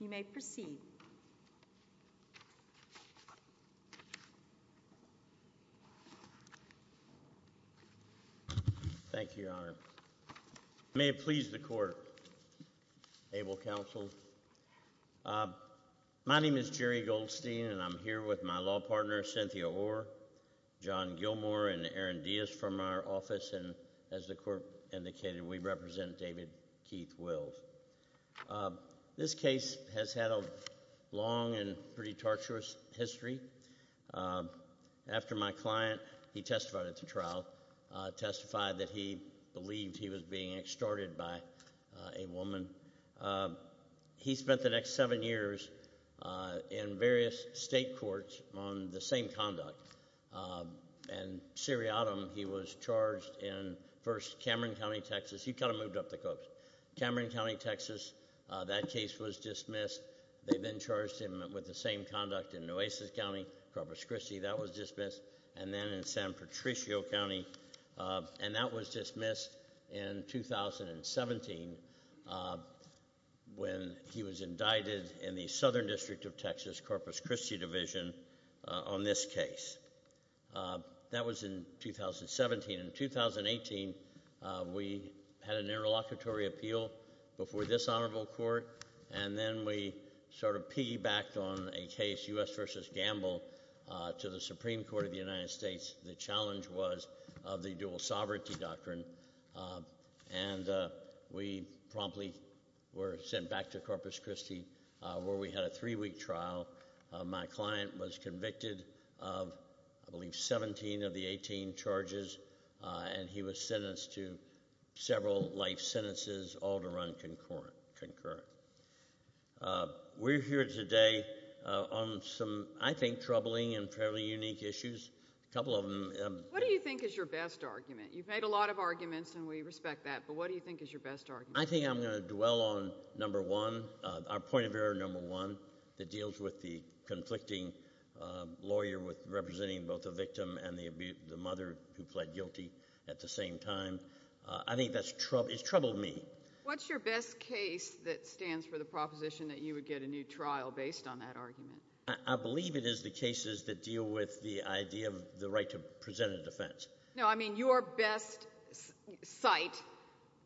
You may proceed. Thank you, Your Honor. May it please the court, able counsel. My name is Jerry Goldstein and I'm here with my law partner, Cynthia Orr, John Gilmore and Aaron Diaz from our office, and as the court indicated, we represent David Keith Wills. This case has had a long and pretty torturous history. After my client, he testified at the trial, testified that he believed he was being extorted by a woman. He spent the next seven years in various state courts on the same conduct, and seriatim, he was charged in, first, Cameron County, Texas, he kind of moved up the coast, Cameron County, Texas, that case was dismissed, they then charged him with the same conduct in Nueces County, Corpus Christi, that was dismissed, and then in San Patricio County, and that was dismissed in 2017, when he was indicted in the Southern District of Texas, Corpus Christi Division, on this case. That was in 2017, in 2018, we had an interlocutory appeal before this honorable court, and then we sort of piggybacked on a case, U.S. v. Gamble, to the Supreme Court of the United States, in Akron, and we promptly were sent back to Corpus Christi, where we had a three-week trial. My client was convicted of, I believe, 17 of the 18 charges, and he was sentenced to several life sentences, all to run concurrent. We're here today on some, I think, troubling and fairly unique issues, a couple of them. What do you think is your best argument? You've made a lot of arguments, and we respect that, but what do you think is your best argument? I think I'm going to dwell on number one, our point of error number one, that deals with the conflicting lawyer representing both the victim and the mother who pled guilty at the same time. I think that's trouble, it's troubled me. What's your best case that stands for the proposition that you would get a new trial based on that argument? I believe it is the cases that deal with the idea of the right to present a defense. No, I mean your best cite,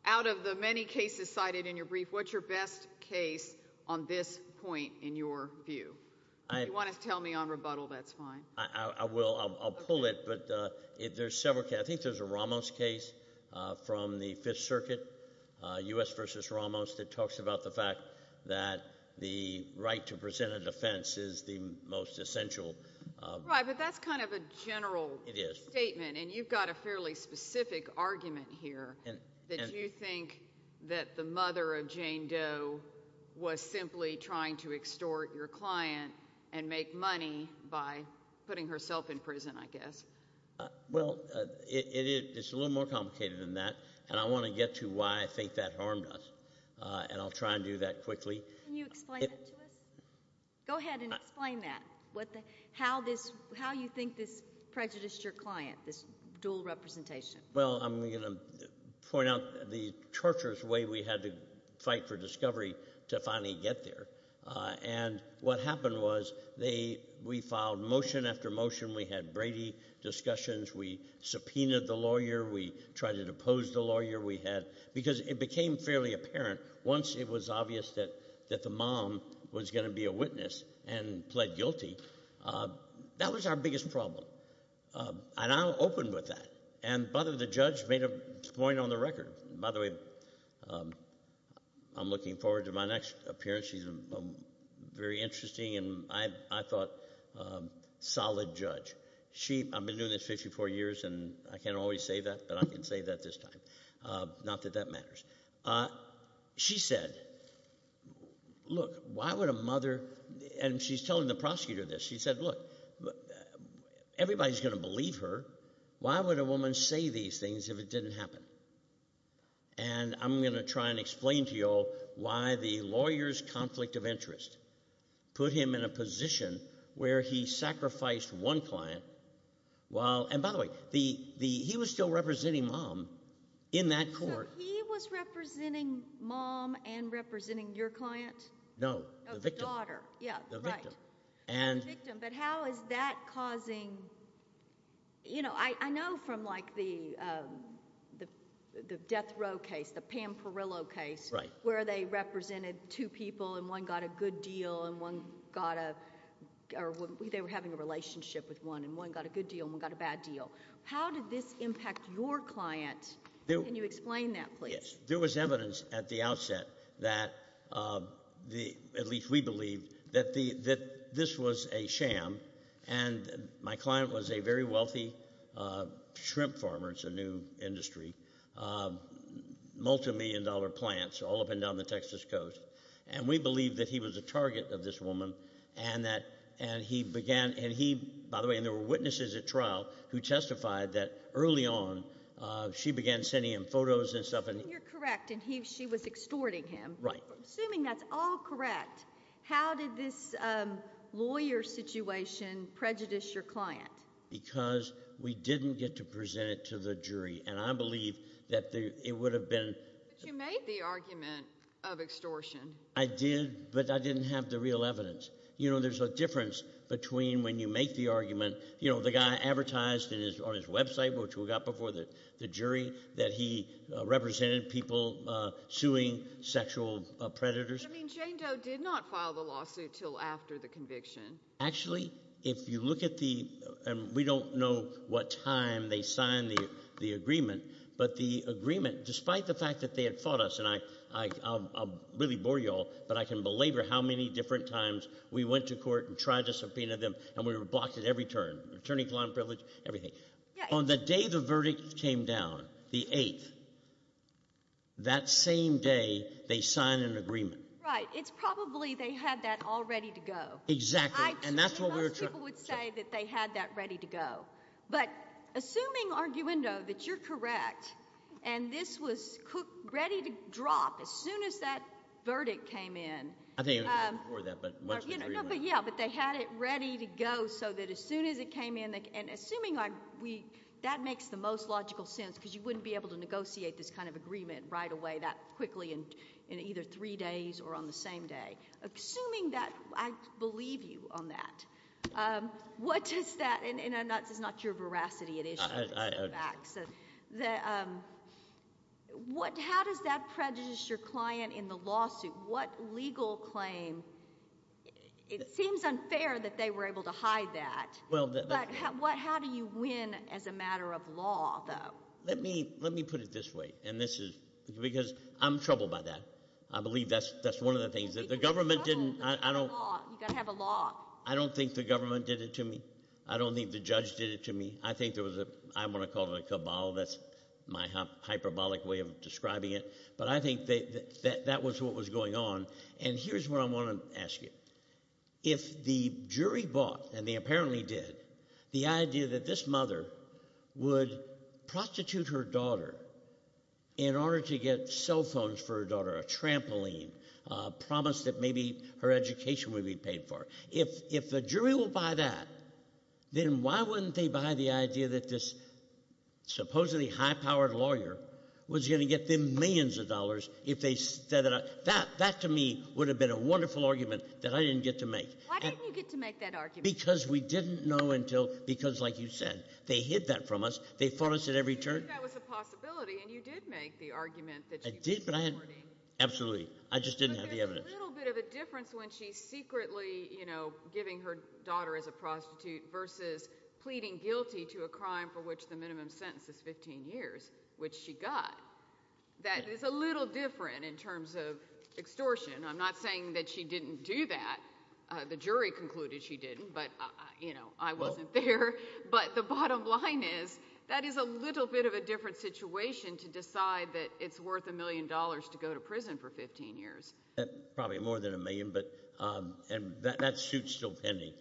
out of the many cases cited in your brief, what's your best case on this point in your view? If you want to tell me on rebuttal, that's fine. I will. I'll pull it, but there's several cases. I think there's a Ramos case from the Fifth Circuit, U.S. v. Ramos, that talks about the fact that the right to present a defense is the most essential. Right, but that's kind of a general statement. It is. You've got a fairly specific argument here that you think that the mother of Jane Doe was simply trying to extort your client and make money by putting herself in prison, I guess. Well, it's a little more complicated than that, and I want to get to why I think that harmed us, and I'll try and do that quickly. Can you explain that to us? Go ahead and explain that, how you think this prejudiced your client, this dual representation. Well, I'm going to point out the torturous way we had to fight for discovery to finally get there, and what happened was we filed motion after motion. We had Brady discussions. We subpoenaed the lawyer. We tried to depose the lawyer. It became fairly apparent once it was obvious that the mom was going to be a witness and pled guilty. That was our biggest problem, and I opened with that, and the judge made a point on the record. By the way, I'm looking forward to my next appearance. She's very interesting, and I thought, solid judge. I've been doing this 54 years, and I can't always say that, but I can say that this time. Not that that matters. She said, look, why would a mother, and she's telling the prosecutor this. She said, look, everybody's going to believe her. Why would a woman say these things if it didn't happen? I'm going to try and explain to you all why the lawyer's conflict of interest put him in a position where he sacrificed one client while, and by the way, he was still representing mom in that court. He was representing mom and representing your client? No. The victim. The daughter. Yeah, right. The victim. The victim, but how is that causing... I know from the death row case, the Pam Perillo case, where they represented two people, and one got a good deal, and one got a... They were having a relationship with one, and one got a good deal, and one got a bad deal. How did this impact your client? Can you explain that, please? There was evidence at the outset that, at least we believe, that this was a sham, and that my client was a very wealthy shrimp farmer, it's a new industry, multimillion dollar plants, all up and down the Texas coast. We believe that he was a target of this woman, and he began... By the way, there were witnesses at trial who testified that, early on, she began sending him photos and stuff. You're correct, and she was extorting him. Right. Assuming that's all correct. How did this lawyer situation prejudice your client? Because we didn't get to present it to the jury, and I believe that it would have been... But you made the argument of extortion. I did, but I didn't have the real evidence. There's a difference between when you make the argument... The guy advertised on his website, which we got before the jury, that he represented people suing sexual predators. Jane Doe did not file the lawsuit until after the conviction. Actually, if you look at the... We don't know what time they signed the agreement, but the agreement, despite the fact that they had fought us, and I'll really bore you all, but I can belabor how many different times we went to court and tried to subpoena them, and we were blocked at every turn, attorney-client privilege, everything. On the day the verdict came down, the 8th, that same day, they signed an agreement. Right. It's probably they had that all ready to go. Exactly. And that's what we were... Most people would say that they had that ready to go, but assuming, Arguendo, that you're correct, and this was ready to drop as soon as that verdict came in... I think it was before that, but once the agreement... Yeah, but they had it ready to go so that as soon as it came in... Assuming that makes the most logical sense, because you wouldn't be able to negotiate this kind of agreement right away that quickly in either three days or on the same day, assuming that I believe you on that, what does that... That's not your veracity, it is your facts. So what legal claim... It seems unfair that they were able to hide that, but how do you win as a matter of law, though? Let me put it this way, and this is... Because I'm troubled by that. I believe that's one of the things that the government didn't... You've got to have a law. I don't think the government did it to me. I don't think the judge did it to me. I think there was a... I want to call it a cabal, that's my hyperbolic way of describing it, but I think that that was what was going on, and here's what I want to ask you. If the jury bought, and they apparently did, the idea that this mother would prostitute her daughter in order to get cell phones for her daughter, a trampoline, a promise that maybe her education would be paid for. If the jury will buy that, then why wouldn't they buy the idea that this supposedly high-powered lawyer was going to get them millions of dollars if they... That, to me, would have been a wonderful argument that I didn't get to make. Why didn't you get to make that argument? Because we didn't know until... Because, like you said, they hid that from us. They fought us at every turn. You knew that was a possibility, and you did make the argument that you were supporting. I did, but I had... Absolutely. I just didn't have the evidence. But there's a little bit of a difference when she's secretly giving her daughter as a prostitute versus pleading guilty to a crime for which the minimum sentence is 15 years, which she got. That is a little different in terms of extortion. I'm not saying that she didn't do that. The jury concluded she didn't, but I wasn't there. But the bottom line is, that is a little bit of a different situation to decide that it's worth a million dollars to go to prison for 15 years. Probably more than a million, but that suit's still pending.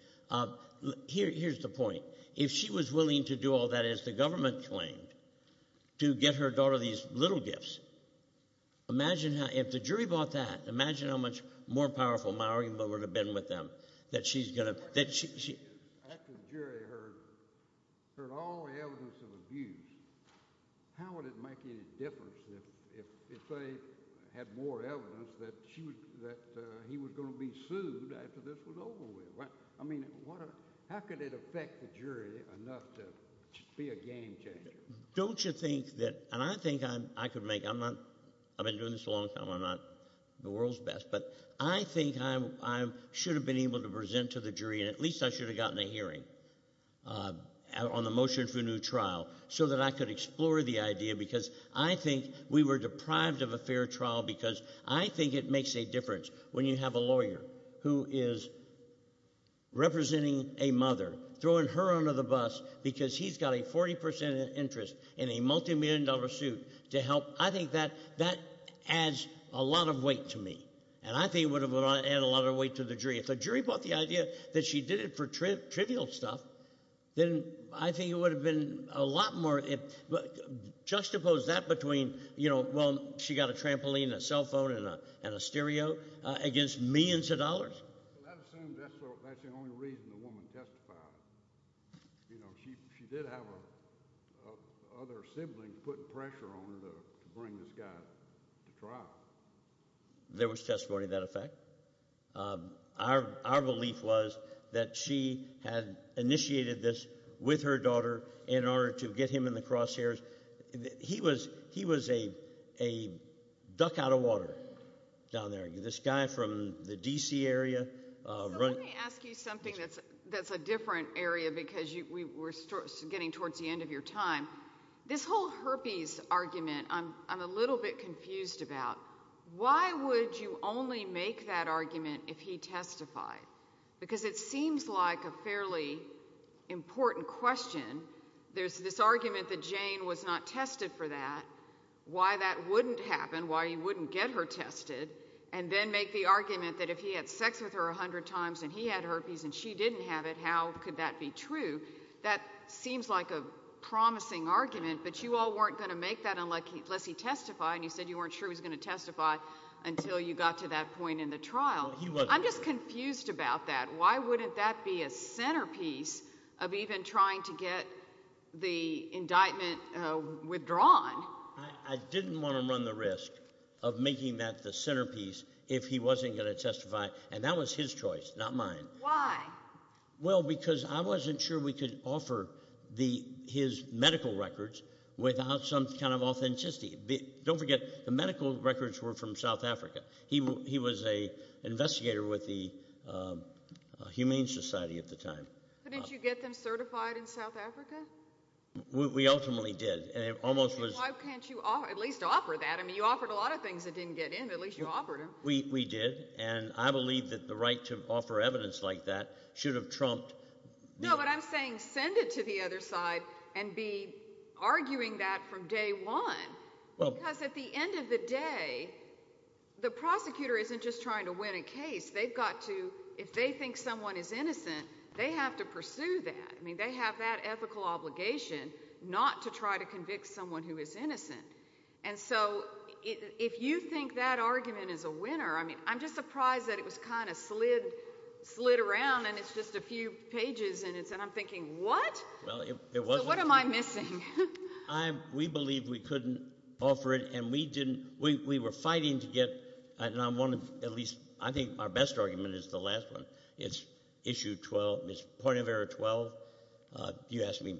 Here's the point. If she was willing to do all that, as the government claimed, to get her daughter these little gifts, imagine how... If the jury bought that, imagine how much more powerful my argument would have been with them, that she's going to... After the jury heard all the evidence of abuse, how would it make any difference if they had more evidence that he was going to be sued after this was over with? How could it affect the jury enough to be a game changer? Don't you think that... I've been doing this a long time, I'm not the world's best, but I think I should have been able to present to the jury, and at least I should have gotten a hearing on the motion for a new trial, so that I could explore the idea, because I think we were deprived of a fair trial, because I think it makes a difference when you have a lawyer who is representing a mother, throwing her under the bus, because he's got a 40% interest in a multi-million dollar suit to help. I think that adds a lot of weight to me, and I think it would have added a lot of weight to the jury. If the jury bought the idea that she did it for trivial stuff, then I think it would have been a lot more... Juxtapose that between, well, she got a trampoline and a cell phone and a stereo, against millions of dollars. That assumes that's the only reason the woman testified. She did have other siblings putting pressure on her to bring this guy to trial. There was testimony to that effect. Our belief was that she had initiated this with her daughter in order to get him in the crosshairs. He was a duck out of water down there. This guy from the D.C. area... Let me ask you something that's a different area, because we're getting towards the end of your time. This whole herpes argument, I'm a little bit confused about. Why would you only make that argument if he testified? Because it seems like a fairly important question. There's this argument that Jane was not tested for that, why that wouldn't happen, why you wouldn't get her tested, and then make the argument that if he had sex with her a hundred times and he had herpes and she didn't have it, how could that be true? That seems like a promising argument, but you all weren't going to make that unless he testified, and you said you weren't sure he was going to testify until you got to that point in the trial. I'm just confused about that. Why wouldn't that be a centerpiece of even trying to get the indictment withdrawn? I didn't want to run the risk of making that the centerpiece if he wasn't going to testify, and that was his choice, not mine. Why? Well, because I wasn't sure we could offer his medical records without some kind of authenticity. Don't forget, the medical records were from South Africa. He was an investigator with the Humane Society at the time. Couldn't you get them certified in South Africa? We ultimately did. Why can't you at least offer that? You offered a lot of things that didn't get in, at least you offered them. We did, and I believe that the right to offer evidence like that should have trumped— No, but I'm saying send it to the other side and be arguing that from day one, because at the end of the day, the prosecutor isn't just trying to win a case. If they think someone is innocent, they have to pursue that. They have that ethical obligation not to try to convict someone who is innocent. And so if you think that argument is a winner, I mean, I'm just surprised that it was kind of slid around and it's just a few pages, and I'm thinking, what? So what am I missing? We believed we couldn't offer it, and we were fighting to get—and I think our best argument is the last one. It's point of error 12. You asked me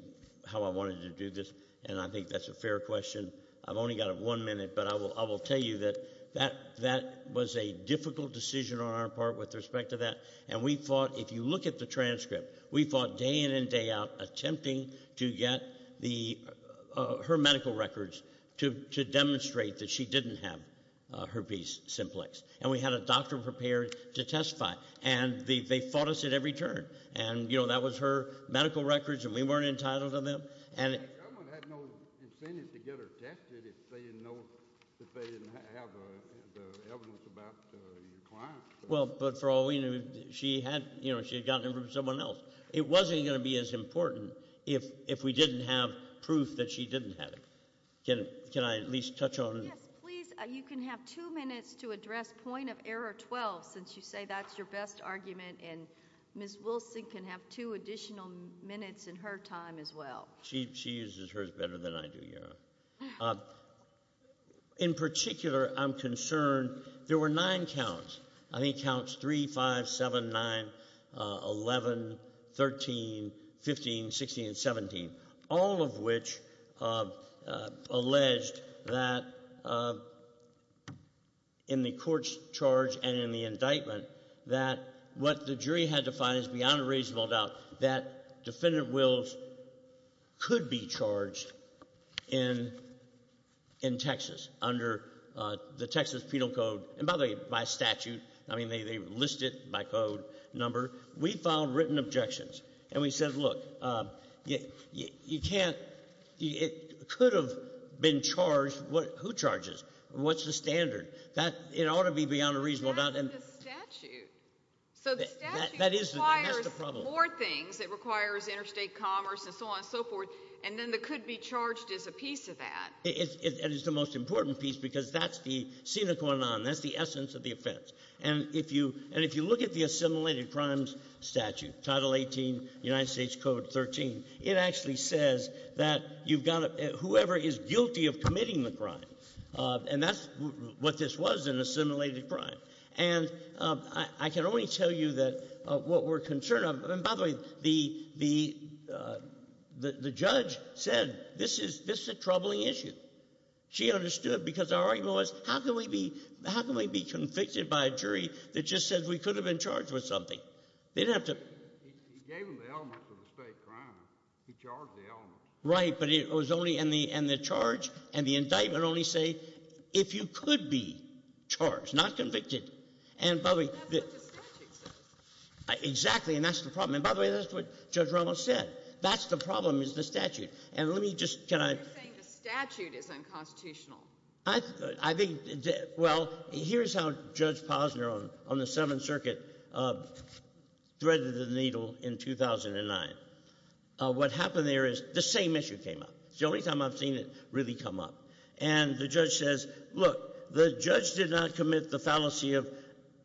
how I wanted to do this, and I think that's a fair question. I've only got one minute, but I will tell you that that was a difficult decision on our part with respect to that. And we fought—if you look at the transcript, we fought day in and day out attempting to get her medical records to demonstrate that she didn't have herpes simplex, and we had a doctor prepared to testify. And they fought us at every turn, and that was her medical records, and we weren't entitled to them. The government had no incentive to get her tested if they didn't know that they didn't have the evidence about your client. Well, but for all we knew, she had gotten them from someone else. It wasn't going to be as important if we didn't have proof that she didn't have it. Can I at least touch on— Yes, please. You can have two minutes to address point of error 12, since you say that's your best argument, and Ms. Wilson can have two additional minutes in her time as well. She uses hers better than I do, Your Honor. In particular, I'm concerned there were nine counts—I think counts 3, 5, 7, 9, 11, 13, 15, 16, and 17—all of which alleged that in the court's charge and in the indictment that what the jury had to find is beyond a reasonable doubt that defendant Wills could be charged in Texas under the Texas Penal Code, and by the way, by statute. I mean, they list it by code, number. We filed written objections, and we said, look, you can't—it could have been charged. Who charges? What's the standard? It ought to be beyond a reasonable doubt. But it's a statute. So the statute requires more things. It requires interstate commerce and so on and so forth, and then it could be charged as a piece of that. And it's the most important piece, because that's the sine qua non, that's the essence of the offense. And if you look at the assimilated crimes statute, Title 18, United States Code 13, it actually says that whoever is guilty of committing the crime—and that's what this was, an assimilated crime. And I can only tell you that what we're concerned of—and by the way, the judge said this is a troubling issue. She understood, because our argument was, how can we be—how can we be convicted by a jury that just says we could have been charged with something? They didn't have to— He gave them the elements of a state crime. He charged the elements. Right. But it was only—and the charge and the indictment only say if you could be charged, not convicted. And by the way— That's what the statute says. Exactly. And that's the problem. And by the way, that's what Judge Ramos said. That's the problem, is the statute. And let me just—can I— You're saying the statute is unconstitutional. I think—well, here's how Judge Posner on the Seventh Circuit threaded the needle in 2009. What happened there is the same issue came up. It's the only time I've seen it really come up. And the judge says, look, the judge did not commit the fallacy of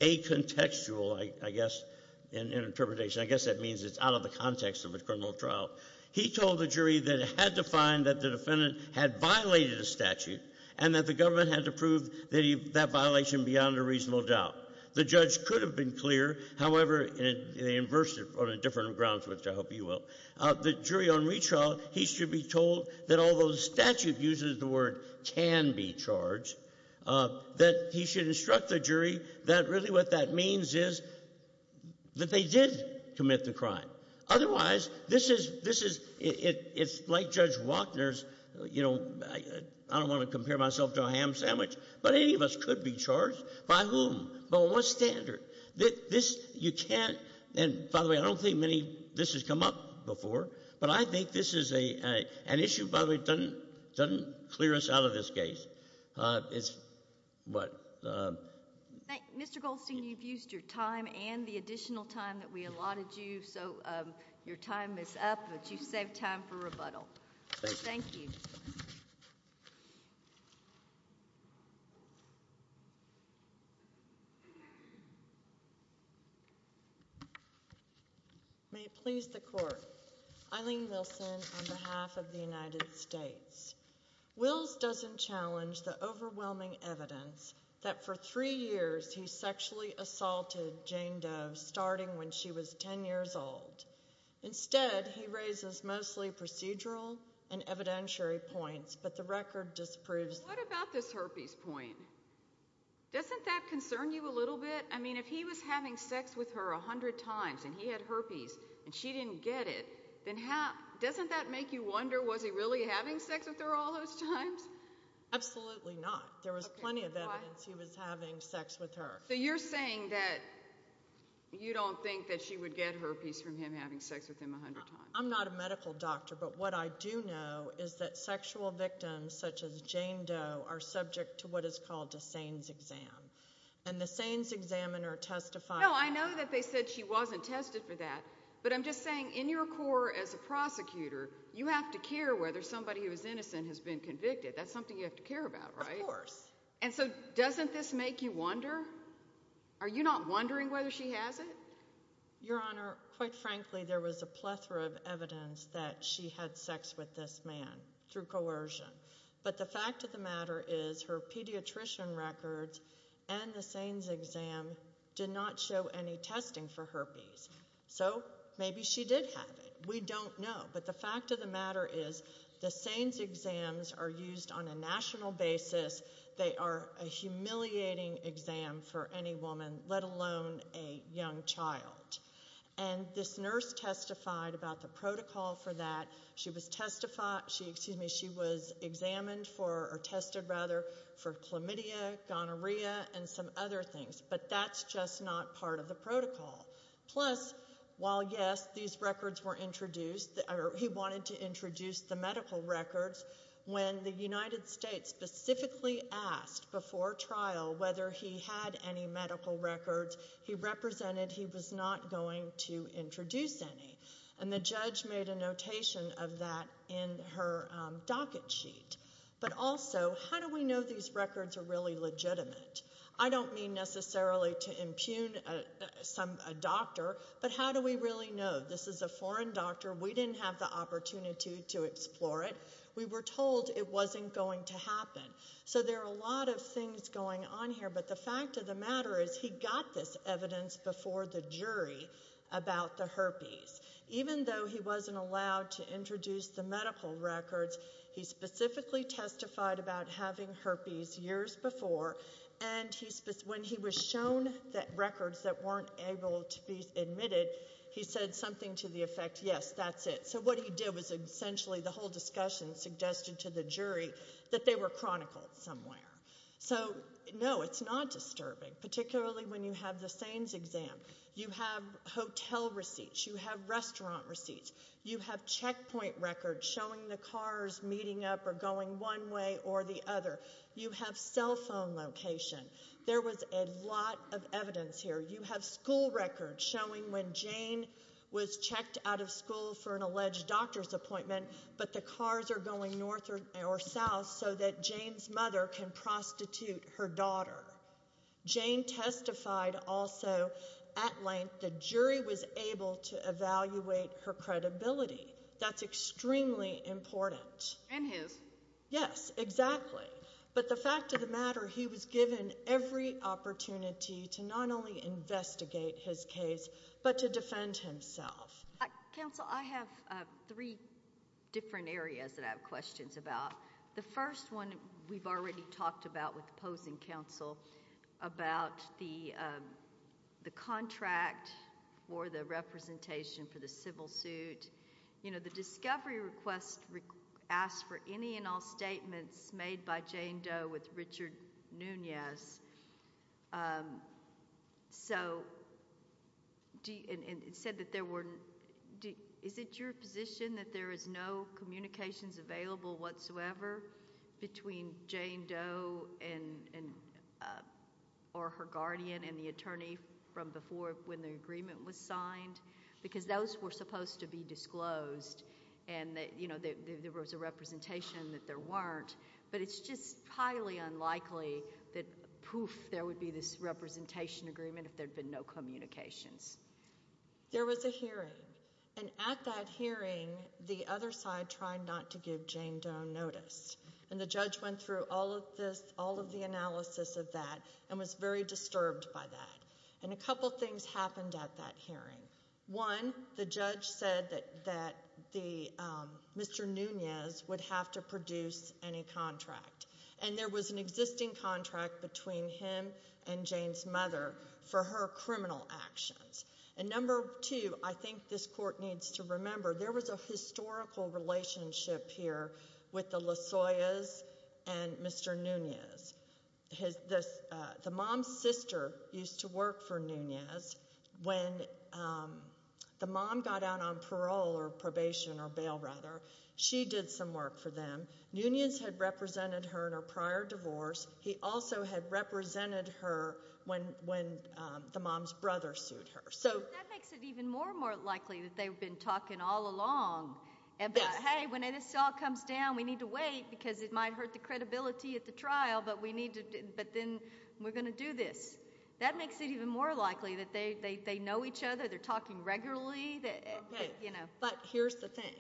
a contextual, I guess, in interpretation. I guess that means it's out of the context of a criminal trial. He told the jury that it had to find that the defendant had violated a statute and that the government had to prove that violation beyond a reasonable doubt. The judge could have been clear. However, they inversed it on a different grounds, which I hope you will. The jury on retrial, he should be told that although the statute uses the word can be charged, that he should instruct the jury that really what that means is that they did commit the crime. Otherwise, this is—it's like Judge Wachner's—I don't want to compare myself to a ham sandwich, but any of us could be charged. By whom? By what standard? This—you can't—and, by the way, I don't think many—this has come up before, but I think this is an issue, by the way, that doesn't clear us out of this case. It's—what? Mr. Goldstein, you've used your time and the additional time that we allotted you, so your time is up, but you've saved time for rebuttal. Thank you. Thank you. May it please the court. Eileen Wilson on behalf of the United States. Wills doesn't challenge the overwhelming evidence that for three years he sexually assaulted Jane Doe starting when she was 10 years old. Instead, he raises mostly procedural and evidentiary points, but the record disproves— What about this herpes point? Doesn't that concern you a little bit? I mean, if he was having sex with her 100 times and he had herpes and she didn't get it, then how—doesn't that make you wonder, was he really having sex with her all those times? Absolutely not. There was plenty of evidence he was having sex with her. So you're saying that you don't think that she would get herpes from him having sex with him 100 times? I'm not a medical doctor, but what I do know is that sexual victims such as Jane Doe are subject to what is called a SANES exam. And the SANES examiner testified— No, I know that they said she wasn't tested for that, but I'm just saying in your core as a prosecutor, you have to care whether somebody who is innocent has been convicted. That's something you have to care about, right? Of course. And so doesn't this make you wonder? Are you not wondering whether she has it? Your Honor, quite frankly, there was a plethora of evidence that she had sex with this man through coercion. But the fact of the matter is her pediatrician records and the SANES exam did not show any testing for herpes. So maybe she did have it. We don't know. But the fact of the matter is the SANES exams are used on a national basis. They are a humiliating exam for any woman, let alone a young child. And this nurse testified about the protocol for that. She was examined for—or tested, rather, for chlamydia, gonorrhea, and some other things. But that's just not part of the protocol. Plus, while, yes, these records were introduced, he wanted to introduce the medical records, when the United States specifically asked before trial whether he had any medical records, he represented he was not going to introduce any. And the judge made a notation of that in her docket sheet. But also, how do we know these records are really legitimate? I don't mean necessarily to impugn a doctor, but how do we really know? This is a foreign doctor. We didn't have the opportunity to explore it. We were told it wasn't going to happen. So there are a lot of things going on here. But the fact of the matter is he got this evidence before the jury about the herpes. Even though he wasn't allowed to introduce the medical records, he specifically testified about having herpes years before. And when he was shown the records that weren't able to be admitted, he said something to the effect, yes, that's it. So what he did was essentially the whole discussion suggested to the jury that they were chronicled somewhere. So, no, it's not disturbing, particularly when you have the SANES exam. You have hotel receipts. You have restaurant receipts. You have checkpoint records showing the cars meeting up or going one way or the other. You have cell phone location. There was a lot of evidence here. You have school records showing when Jane was checked out of school for an alleged doctor's appointment, but the cars are going north or south so that Jane's mother can prostitute her daughter. Jane testified also at length. The jury was able to evaluate her credibility. That's extremely important. And his. Yes, exactly. But the fact of the matter, he was given every opportunity to not only investigate his case but to defend himself. Counsel, I have three different areas that I have questions about. The first one we've already talked about with opposing counsel about the contract or the representation for the civil suit. You know, the discovery request asked for any and all statements made by Jane Doe with Richard Nunez. So it said that there were. Is it your position that there is no communications available whatsoever between Jane Doe and or her guardian and the attorney from before when the agreement was signed? Because those were supposed to be disclosed and that, you know, there was a representation that there weren't. But it's just highly unlikely that poof, there would be this representation agreement if there had been no communications. There was a hearing and at that hearing, the other side tried not to give Jane Doe notice. And the judge went through all of this, all of the analysis of that and was very disturbed by that. And a couple of things happened at that hearing. One, the judge said that Mr. Nunez would have to produce any contract. And there was an existing contract between him and Jane's mother for her criminal actions. And number two, I think this court needs to remember, there was a historical relationship here with the Lasoyas and Mr. Nunez. The mom's sister used to work for Nunez. When the mom got out on parole or probation or bail, rather, she did some work for them. Nunez had represented her in her prior divorce. He also had represented her when the mom's brother sued her. That makes it even more and more likely that they've been talking all along about, hey, when this all comes down, we need to wait because it might hurt the credibility at the trial, but then we're going to do this. That makes it even more likely that they know each other. They're talking regularly. But here's the thing.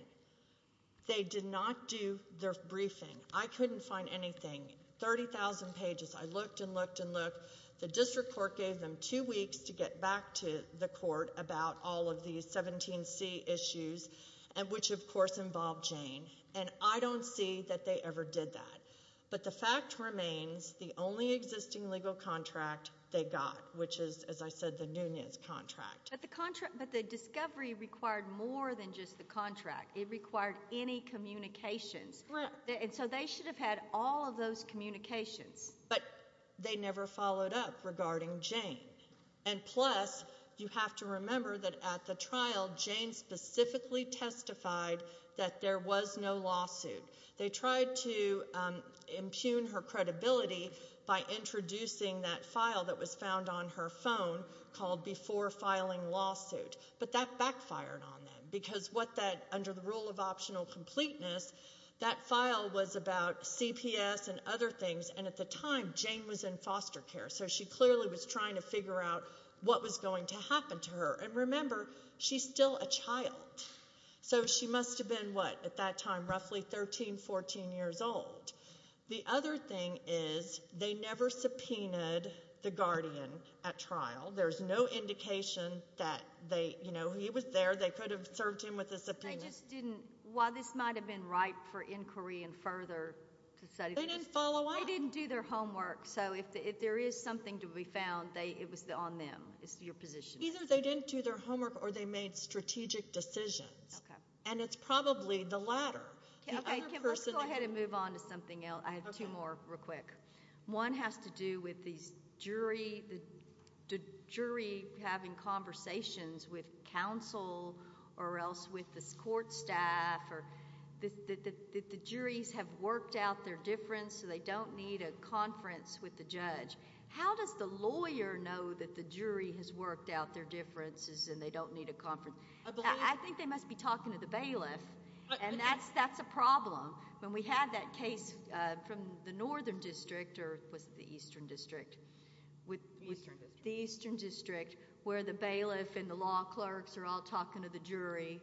They did not do their briefing. I couldn't find anything. 30,000 pages. I looked and looked and looked. The district court gave them two weeks to get back to the court about all of these 17C issues, which, of course, involved Jane. And I don't see that they ever did that. But the fact remains, the only existing legal contract they got, which is, as I said, the Nunez contract. But the discovery required more than just the contract. It required any communications. And so they should have had all of those communications. But they never followed up regarding Jane. And, plus, you have to remember that at the trial, Jane specifically testified that there was no lawsuit. They tried to impugn her credibility by introducing that file that was found on her phone called Before Filing Lawsuit. But that backfired on them because what that, under the rule of optional completeness, that file was about CPS and other things, and at the time, Jane was in foster care. So she clearly was trying to figure out what was going to happen to her. And remember, she's still a child. So she must have been, what, at that time, roughly 13, 14 years old. The other thing is they never subpoenaed the guardian at trial. There's no indication that they, you know, he was there. They could have served him with a subpoena. I just didn't, while this might have been ripe for inquiry and further study. They didn't follow up. They didn't do their homework. So if there is something to be found, it was on them. It's your position. Either they didn't do their homework or they made strategic decisions. And it's probably the latter. Okay. I have two more real quick. One has to do with these jury having conversations with counsel or else with the court staff or the juries have worked out their difference so they don't need a conference with the judge. How does the lawyer know that the jury has worked out their differences and they don't need a conference? I think they must be talking to the bailiff, and that's a problem. When we had that case from the northern district or was it the eastern district? The eastern district. The eastern district where the bailiff and the law clerks are all talking to the jury.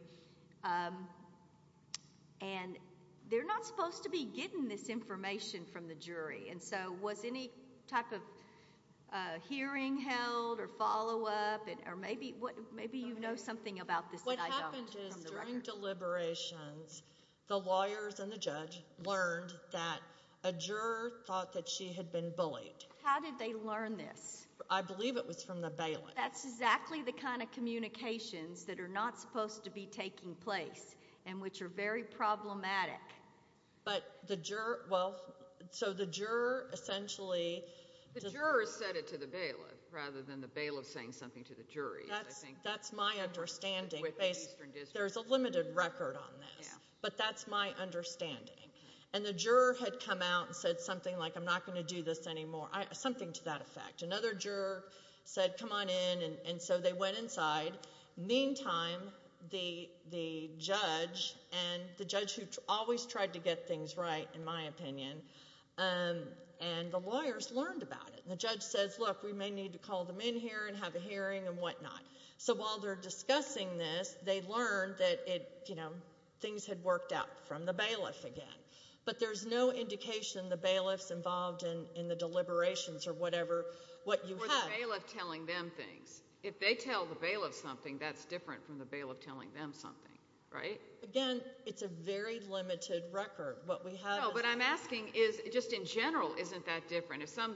And they're not supposed to be getting this information from the jury. And so was any type of hearing held or follow-up or maybe you know something about this that I don't from the record. The lawyers and the judge learned that a juror thought that she had been bullied. How did they learn this? I believe it was from the bailiff. That's exactly the kind of communications that are not supposed to be taking place and which are very problematic. But the juror, well, so the juror essentially The juror said it to the bailiff rather than the bailiff saying something to the jury. That's my understanding. There's a limited record on this, but that's my understanding. And the juror had come out and said something like, I'm not going to do this anymore, something to that effect. Another juror said, come on in, and so they went inside. Meantime, the judge, and the judge who always tried to get things right, in my opinion, and the lawyers learned about it. The judge says, look, we may need to call them in here and have a hearing and whatnot. So while they're discussing this, they learned that things had worked out from the bailiff again. But there's no indication the bailiff's involved in the deliberations or whatever, what you had. Or the bailiff telling them things. If they tell the bailiff something, that's different from the bailiff telling them something, right? Again, it's a very limited record. No, but I'm asking, just in general, isn't that different? If some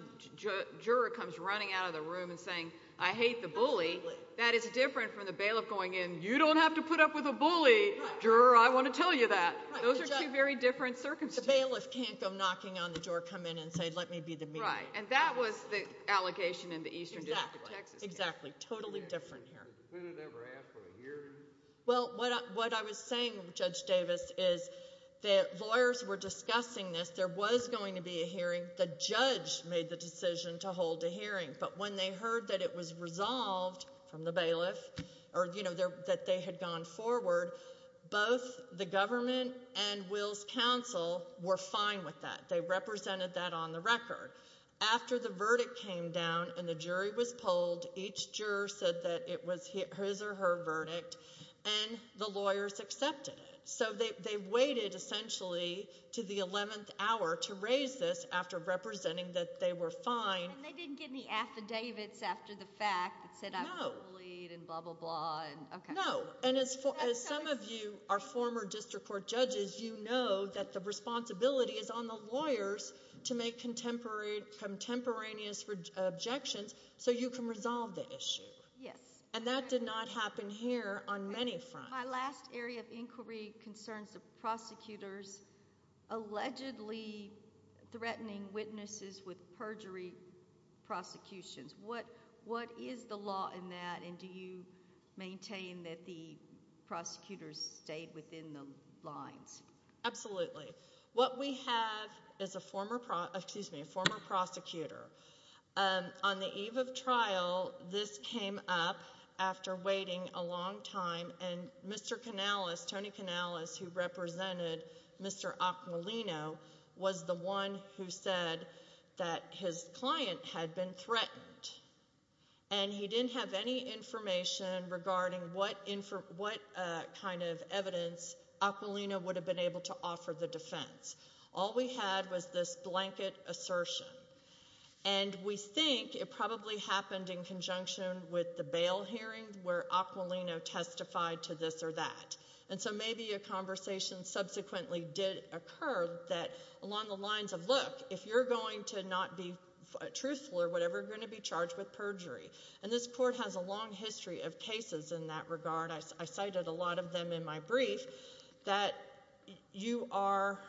juror comes running out of the room and saying, I hate the bully, that is different from the bailiff going in, you don't have to put up with a bully, juror, I want to tell you that. Those are two very different circumstances. The bailiff can't go knocking on the door, come in, and say, let me be the mediator. Right, and that was the allegation in the Eastern District of Texas case. Exactly, totally different here. Well, what I was saying, Judge Davis, is that lawyers were discussing this. There was going to be a hearing. The judge made the decision to hold a hearing. But when they heard that it was resolved from the bailiff, or that they had gone forward, both the government and Will's counsel were fine with that. They represented that on the record. After the verdict came down and the jury was polled, each juror said that it was his or her verdict, and the lawyers accepted it. So they waited, essentially, to the 11th hour to raise this after representing that they were fine. And they didn't get any affidavits after the fact that said I was bullied and blah, blah, blah. No, and as some of you are former district court judges, you know that the responsibility is on the lawyers to make contemporaneous objections so you can resolve the issue. Yes. And that did not happen here on many fronts. My last area of inquiry concerns the prosecutors allegedly threatening witnesses with perjury prosecutions. What is the law in that, and do you maintain that the prosecutors stayed within the lines? Absolutely. What we have is a former prosecutor. On the eve of trial, this came up after waiting a long time, and Mr. Canales, Tony Canales, who represented Mr. Aquilino, was the one who said that his client had been threatened, and he didn't have any information regarding what kind of evidence Aquilino would have been able to offer the defense. All we had was this blanket assertion, and we think it probably happened in conjunction with the bail hearing where Aquilino testified to this or that. And so maybe a conversation subsequently did occur that along the lines of, look, if you're going to not be truthful or whatever, you're going to be charged with perjury. And this court has a long history of cases in that regard. I cited a lot of them in my brief that you are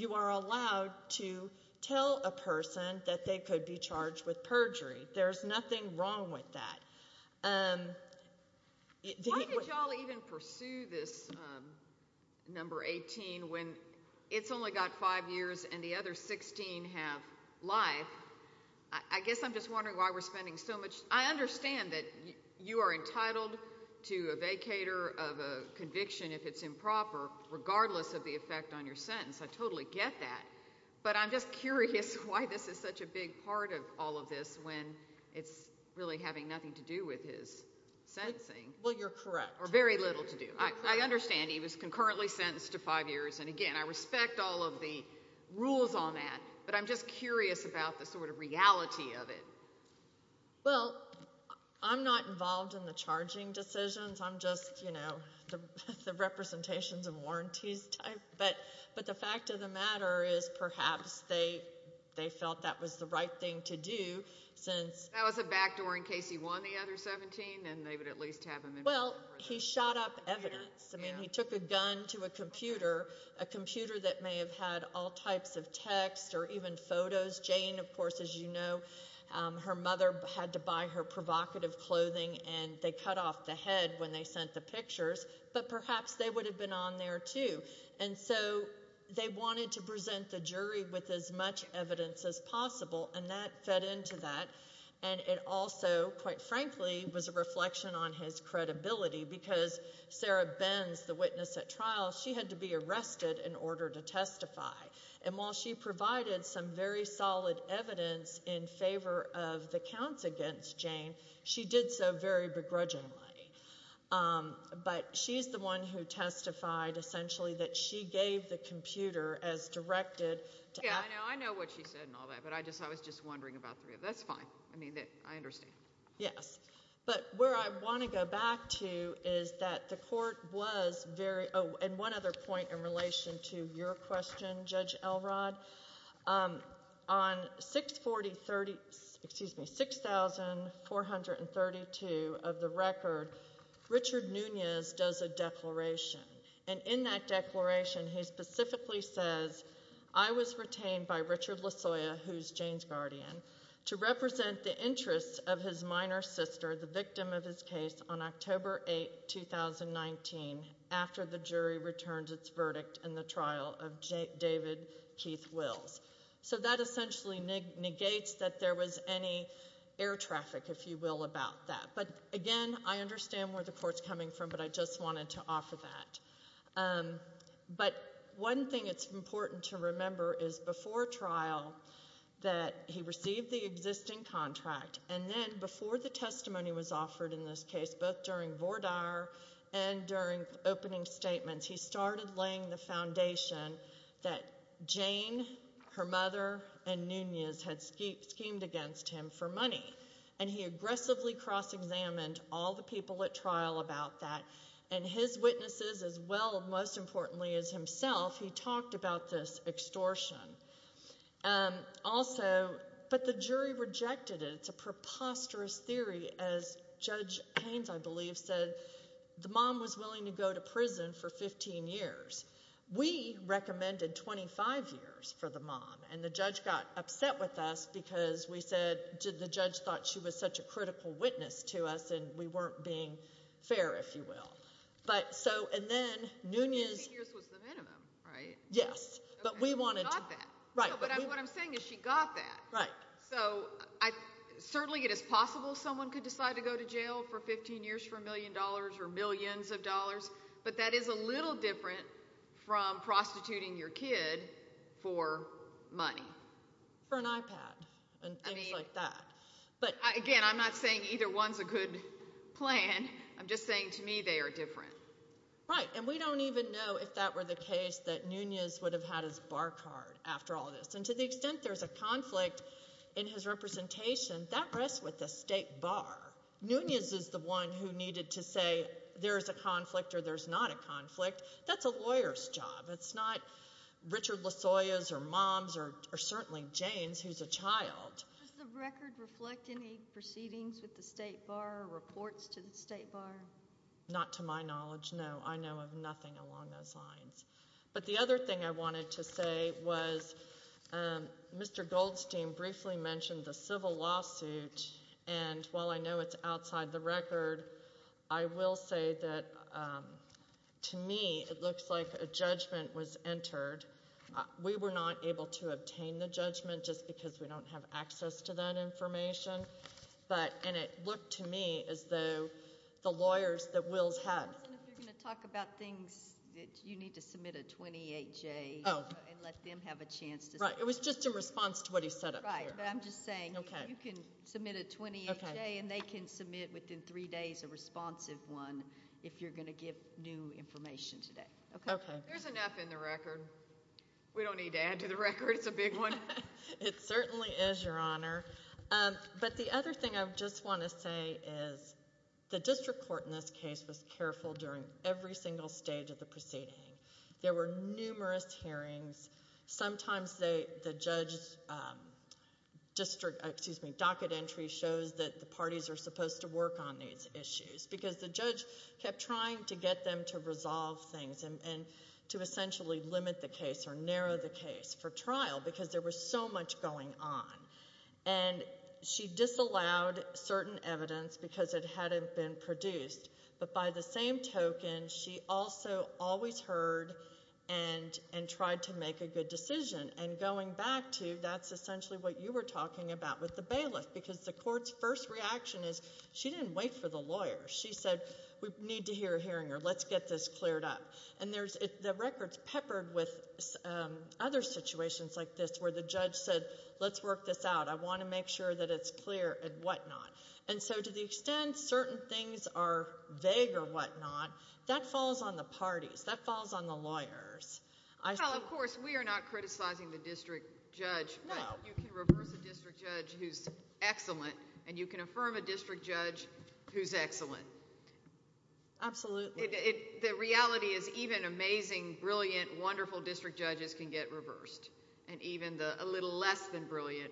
allowed to tell a person that they could be charged with perjury. There's nothing wrong with that. Why did you all even pursue this number 18 when it's only got five years and the other 16 have life? I guess I'm just wondering why we're spending so much. I understand that you are entitled to a vacator of a conviction if it's improper, regardless of the effect on your sentence. I totally get that. But I'm just curious why this is such a big part of all of this when it's really having nothing to do with his sentencing. Well, you're correct. Or very little to do. I understand he was concurrently sentenced to five years. And, again, I respect all of the rules on that, but I'm just curious about the sort of reality of it. Well, I'm not involved in the charging decisions. I'm just, you know, the representations and warranties type. But the fact of the matter is perhaps they felt that was the right thing to do since — That was a backdoor in case he won the other 17 and they would at least have him in prison for that. Well, he shot up evidence. I mean, he took a gun to a computer, a computer that may have had all types of text or even photos. Jane, of course, as you know, her mother had to buy her provocative clothing, and they cut off the head when they sent the pictures. But perhaps they would have been on there, too. And so they wanted to present the jury with as much evidence as possible, and that fed into that. And it also, quite frankly, was a reflection on his credibility because Sarah Benz, the witness at trial, she had to be arrested in order to testify. And while she provided some very solid evidence in favor of the counts against Jane, she did so very begrudgingly. But she's the one who testified, essentially, that she gave the computer as directed. Yeah, I know. I know what she said and all that, but I was just wondering about that. That's fine. I mean, I understand. Yes. But where I want to go back to is that the court was very – oh, and one other point in relation to your question, Judge Elrod. On 640 – excuse me, 6432 of the record, Richard Nunez does a declaration. And in that declaration, he specifically says, I was retained by Richard Lasoya, who is Jane's guardian, to represent the interests of his minor sister, the victim of his case, on October 8, 2019, after the jury returned its verdict in the trial of David Keith Wills. So that essentially negates that there was any air traffic, if you will, about that. But, again, I understand where the court is coming from, but I just wanted to offer that. But one thing it's important to remember is, before trial, that he received the existing contract. And then before the testimony was offered in this case, both during Vordaer and during opening statements, he started laying the foundation that Jane, her mother, and Nunez had schemed against him for money. And he aggressively cross-examined all the people at trial about that. And his witnesses, as well, most importantly, as himself, he talked about this extortion also. But the jury rejected it. It's a preposterous theory. As Judge Haynes, I believe, said, the mom was willing to go to prison for 15 years. We recommended 25 years for the mom. And the judge got upset with us because we said the judge thought she was such a critical witness to us and we weren't being fair, if you will. But, so, and then Nunez… 15 years was the minimum, right? Yes, but we wanted to… She got that. Right. But what I'm saying is she got that. Right. So, certainly it is possible someone could decide to go to jail for 15 years for a million dollars or millions of dollars. But that is a little different from prostituting your kid for money. For an iPad and things like that. Again, I'm not saying either one's a good plan. I'm just saying to me they are different. Right. And we don't even know if that were the case that Nunez would have had his bar card after all this. And to the extent there's a conflict in his representation, that rests with the state bar. Nunez is the one who needed to say there's a conflict or there's not a conflict. That's a lawyer's job. It's not Richard Lasoya's or Mom's or certainly Jane's, who's a child. Does the record reflect any proceedings with the state bar or reports to the state bar? Not to my knowledge, no. I know of nothing along those lines. But the other thing I wanted to say was Mr. Goldstein briefly mentioned the civil lawsuit. And while I know it's outside the record, I will say that to me it looks like a judgment was entered. We were not able to obtain the judgment just because we don't have access to that information. And it looked to me as though the lawyers that Wills had. If you're going to talk about things, you need to submit a 28-J and let them have a chance to speak. It was just in response to what he said up here. Right. But I'm just saying you can submit a 28-J and they can submit within three days a responsive one if you're going to give new information today. Okay. There's enough in the record. We don't need to add to the record. It's a big one. It certainly is, Your Honor. But the other thing I just want to say is the district court in this case was careful during every single stage of the proceeding. There were numerous hearings. Sometimes the judge's docket entry shows that the parties are supposed to work on these issues because the judge kept trying to get them to resolve things and to essentially limit the case or narrow the case for trial because there was so much going on. And she disallowed certain evidence because it hadn't been produced. But by the same token, she also always heard and tried to make a good decision. And going back to that's essentially what you were talking about with the bailiff because the court's first reaction is she didn't wait for the lawyer. She said we need to hear a hearinger. Let's get this cleared up. And the record's peppered with other situations like this where the judge said let's work this out. I want to make sure that it's clear and whatnot. And so to the extent certain things are vague or whatnot, that falls on the parties. That falls on the lawyers. Well, of course, we are not criticizing the district judge. No. But you can reverse a district judge who's excellent, and you can affirm a district judge who's excellent. Absolutely. The reality is even amazing, brilliant, wonderful district judges can get reversed. And even a little less than brilliant,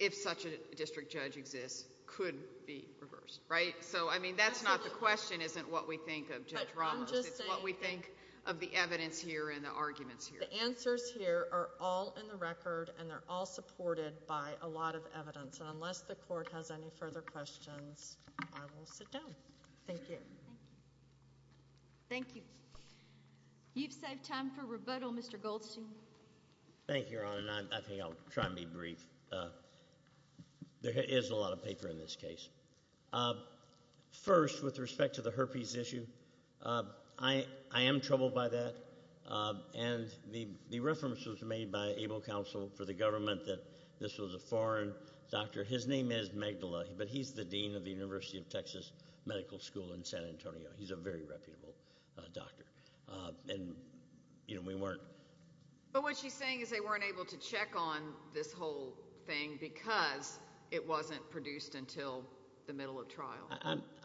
if such a district judge exists, could be reversed, right? So, I mean, that's not the question, isn't what we think of Judge Ramos. It's what we think of the evidence here and the arguments here. The answers here are all in the record, and they're all supported by a lot of evidence. And unless the court has any further questions, I will sit down. Thank you. Thank you. You've saved time for rebuttal, Mr. Goldstein. Thank you, Your Honor, and I think I'll try and be brief. There is a lot of paper in this case. First, with respect to the herpes issue, I am troubled by that. And the reference was made by ABLE Counsel for the government that this was a foreign doctor. His name is Magdala, but he's the dean of the University of Texas Medical School in San Antonio. He's a very reputable doctor. And, you know, we weren't. But what she's saying is they weren't able to check on this whole thing because it wasn't produced until the middle of trial.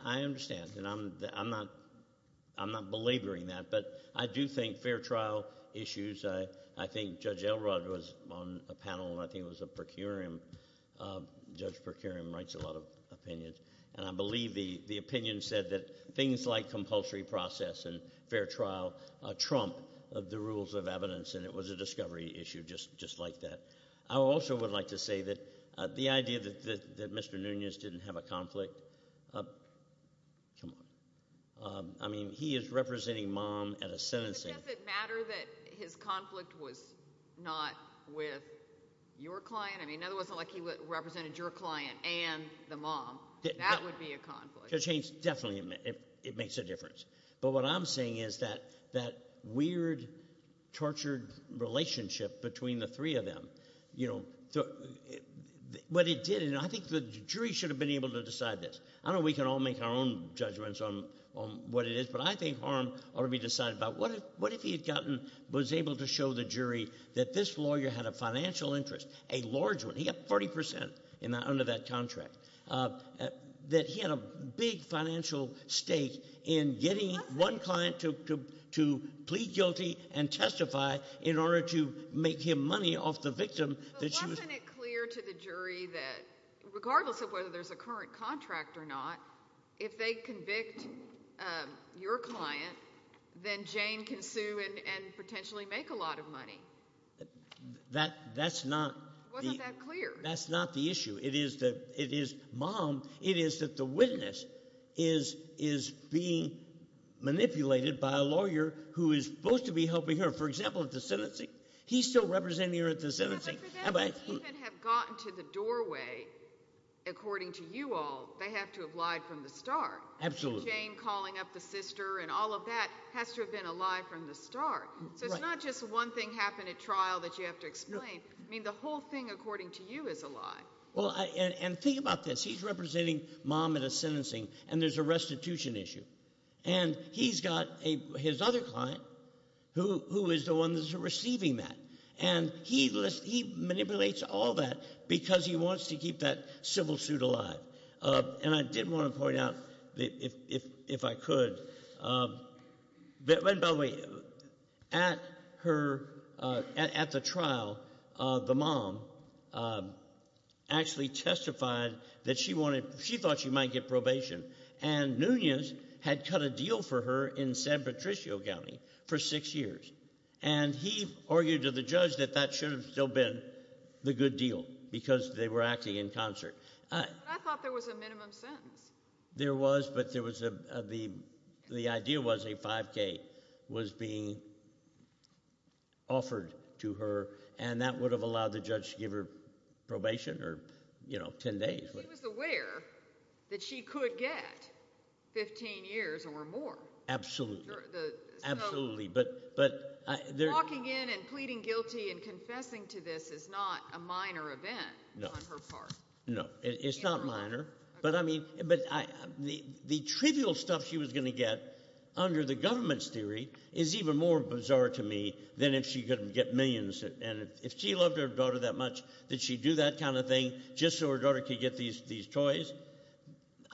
I understand, and I'm not belaboring that. But I do think fair trial issues, I think Judge Elrod was on a panel, and I think it was a procurium. Judge Procurium writes a lot of opinions. And I believe the opinion said that things like compulsory process and fair trial trump the rules of evidence, and it was a discovery issue just like that. I also would like to say that the idea that Mr. Nunes didn't have a conflict, come on. I mean, he is representing mom at a sentencing. Does it matter that his conflict was not with your client? I mean, it wasn't like he represented your client and the mom. That would be a conflict. Judge Haynes, definitely it makes a difference. But what I'm saying is that that weird, tortured relationship between the three of them, you know, what it did, and I think the jury should have been able to decide this. I don't know if we can all make our own judgments on what it is, but I think harm ought to be decided. But what if he had gotten, was able to show the jury that this lawyer had a financial interest, a large one. He got 40% under that contract. That he had a big financial stake in getting one client to plead guilty and testify in order to make him money off the victim. But wasn't it clear to the jury that regardless of whether there's a current contract or not, if they convict your client, then Jane can sue and potentially make a lot of money? That's not the – Wasn't that clear? That's not the issue. It is that it is mom. It is that the witness is being manipulated by a lawyer who is supposed to be helping her, for example, at the sentencing. He's still representing her at the sentencing. But for them to even have gotten to the doorway, according to you all, they have to have lied from the start. Absolutely. Jane calling up the sister and all of that has to have been a lie from the start. Right. So it's not just one thing happened at trial that you have to explain. No. I mean the whole thing, according to you, is a lie. Well, and think about this. He's representing mom at a sentencing and there's a restitution issue. And he's got his other client who is the one that's receiving that. And he manipulates all that because he wants to keep that civil suit alive. And I did want to point out, if I could, that when – by the way, at her – at the trial, the mom actually testified that she wanted – she thought she might get probation. And Nunez had cut a deal for her in San Patricio County for six years. And he argued to the judge that that should have still been the good deal because they were acting in concert. I thought there was a minimum sentence. There was, but there was a – the idea was a 5K was being offered to her, and that would have allowed the judge to give her probation or ten days. She was aware that she could get 15 years or more. Absolutely. Absolutely. But – Walking in and pleading guilty and confessing to this is not a minor event on her part. No. It's not minor. But I mean – but the trivial stuff she was going to get under the government's theory is even more bizarre to me than if she could get millions. And if she loved her daughter that much, did she do that kind of thing just so her daughter could get these toys?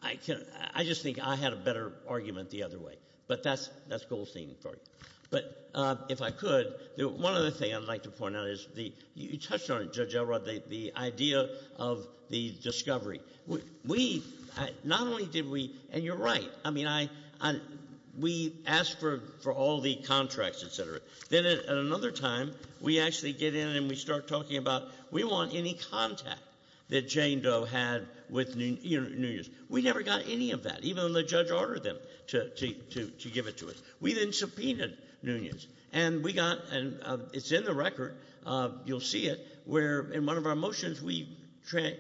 I just think I had a better argument the other way. But that's Goldstein for you. But if I could, one other thing I'd like to point out is the – you touched on it, Judge Elrod, the idea of the discovery. We – not only did we – and you're right. I mean, I – we asked for all the contracts, et cetera. Then at another time, we actually get in and we start talking about we want any contact that Jane Doe had with Nunez. We never got any of that, even though the judge ordered them to give it to us. We then subpoenaed Nunez, and we got – and it's in the record. You'll see it where in one of our motions we trade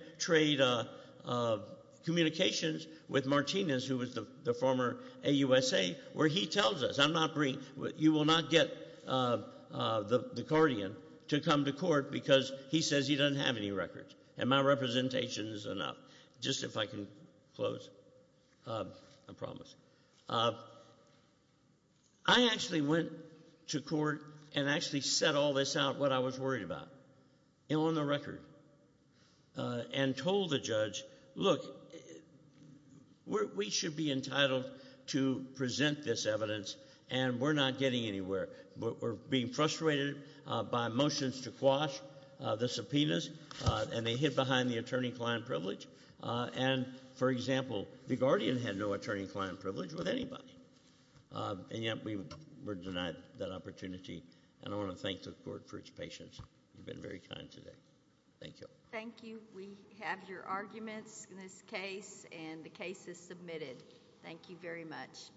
communications with Martinez, who was the former AUSA, where he tells us. I'm not bringing – you will not get the guardian to come to court because he says he doesn't have any records. And my representation is enough. Just if I can close, I promise. I actually went to court and actually set all this out, what I was worried about, on the record, and told the judge, look, we should be entitled to present this evidence, and we're not getting anywhere. We're being frustrated by motions to quash the subpoenas, and they hid behind the attorney-client privilege. And, for example, the guardian had no attorney-client privilege with anybody, and yet we were denied that opportunity. And I want to thank the court for its patience. You've been very kind today. Thank you. Thank you. We have your arguments in this case, and the case is submitted. Thank you very much.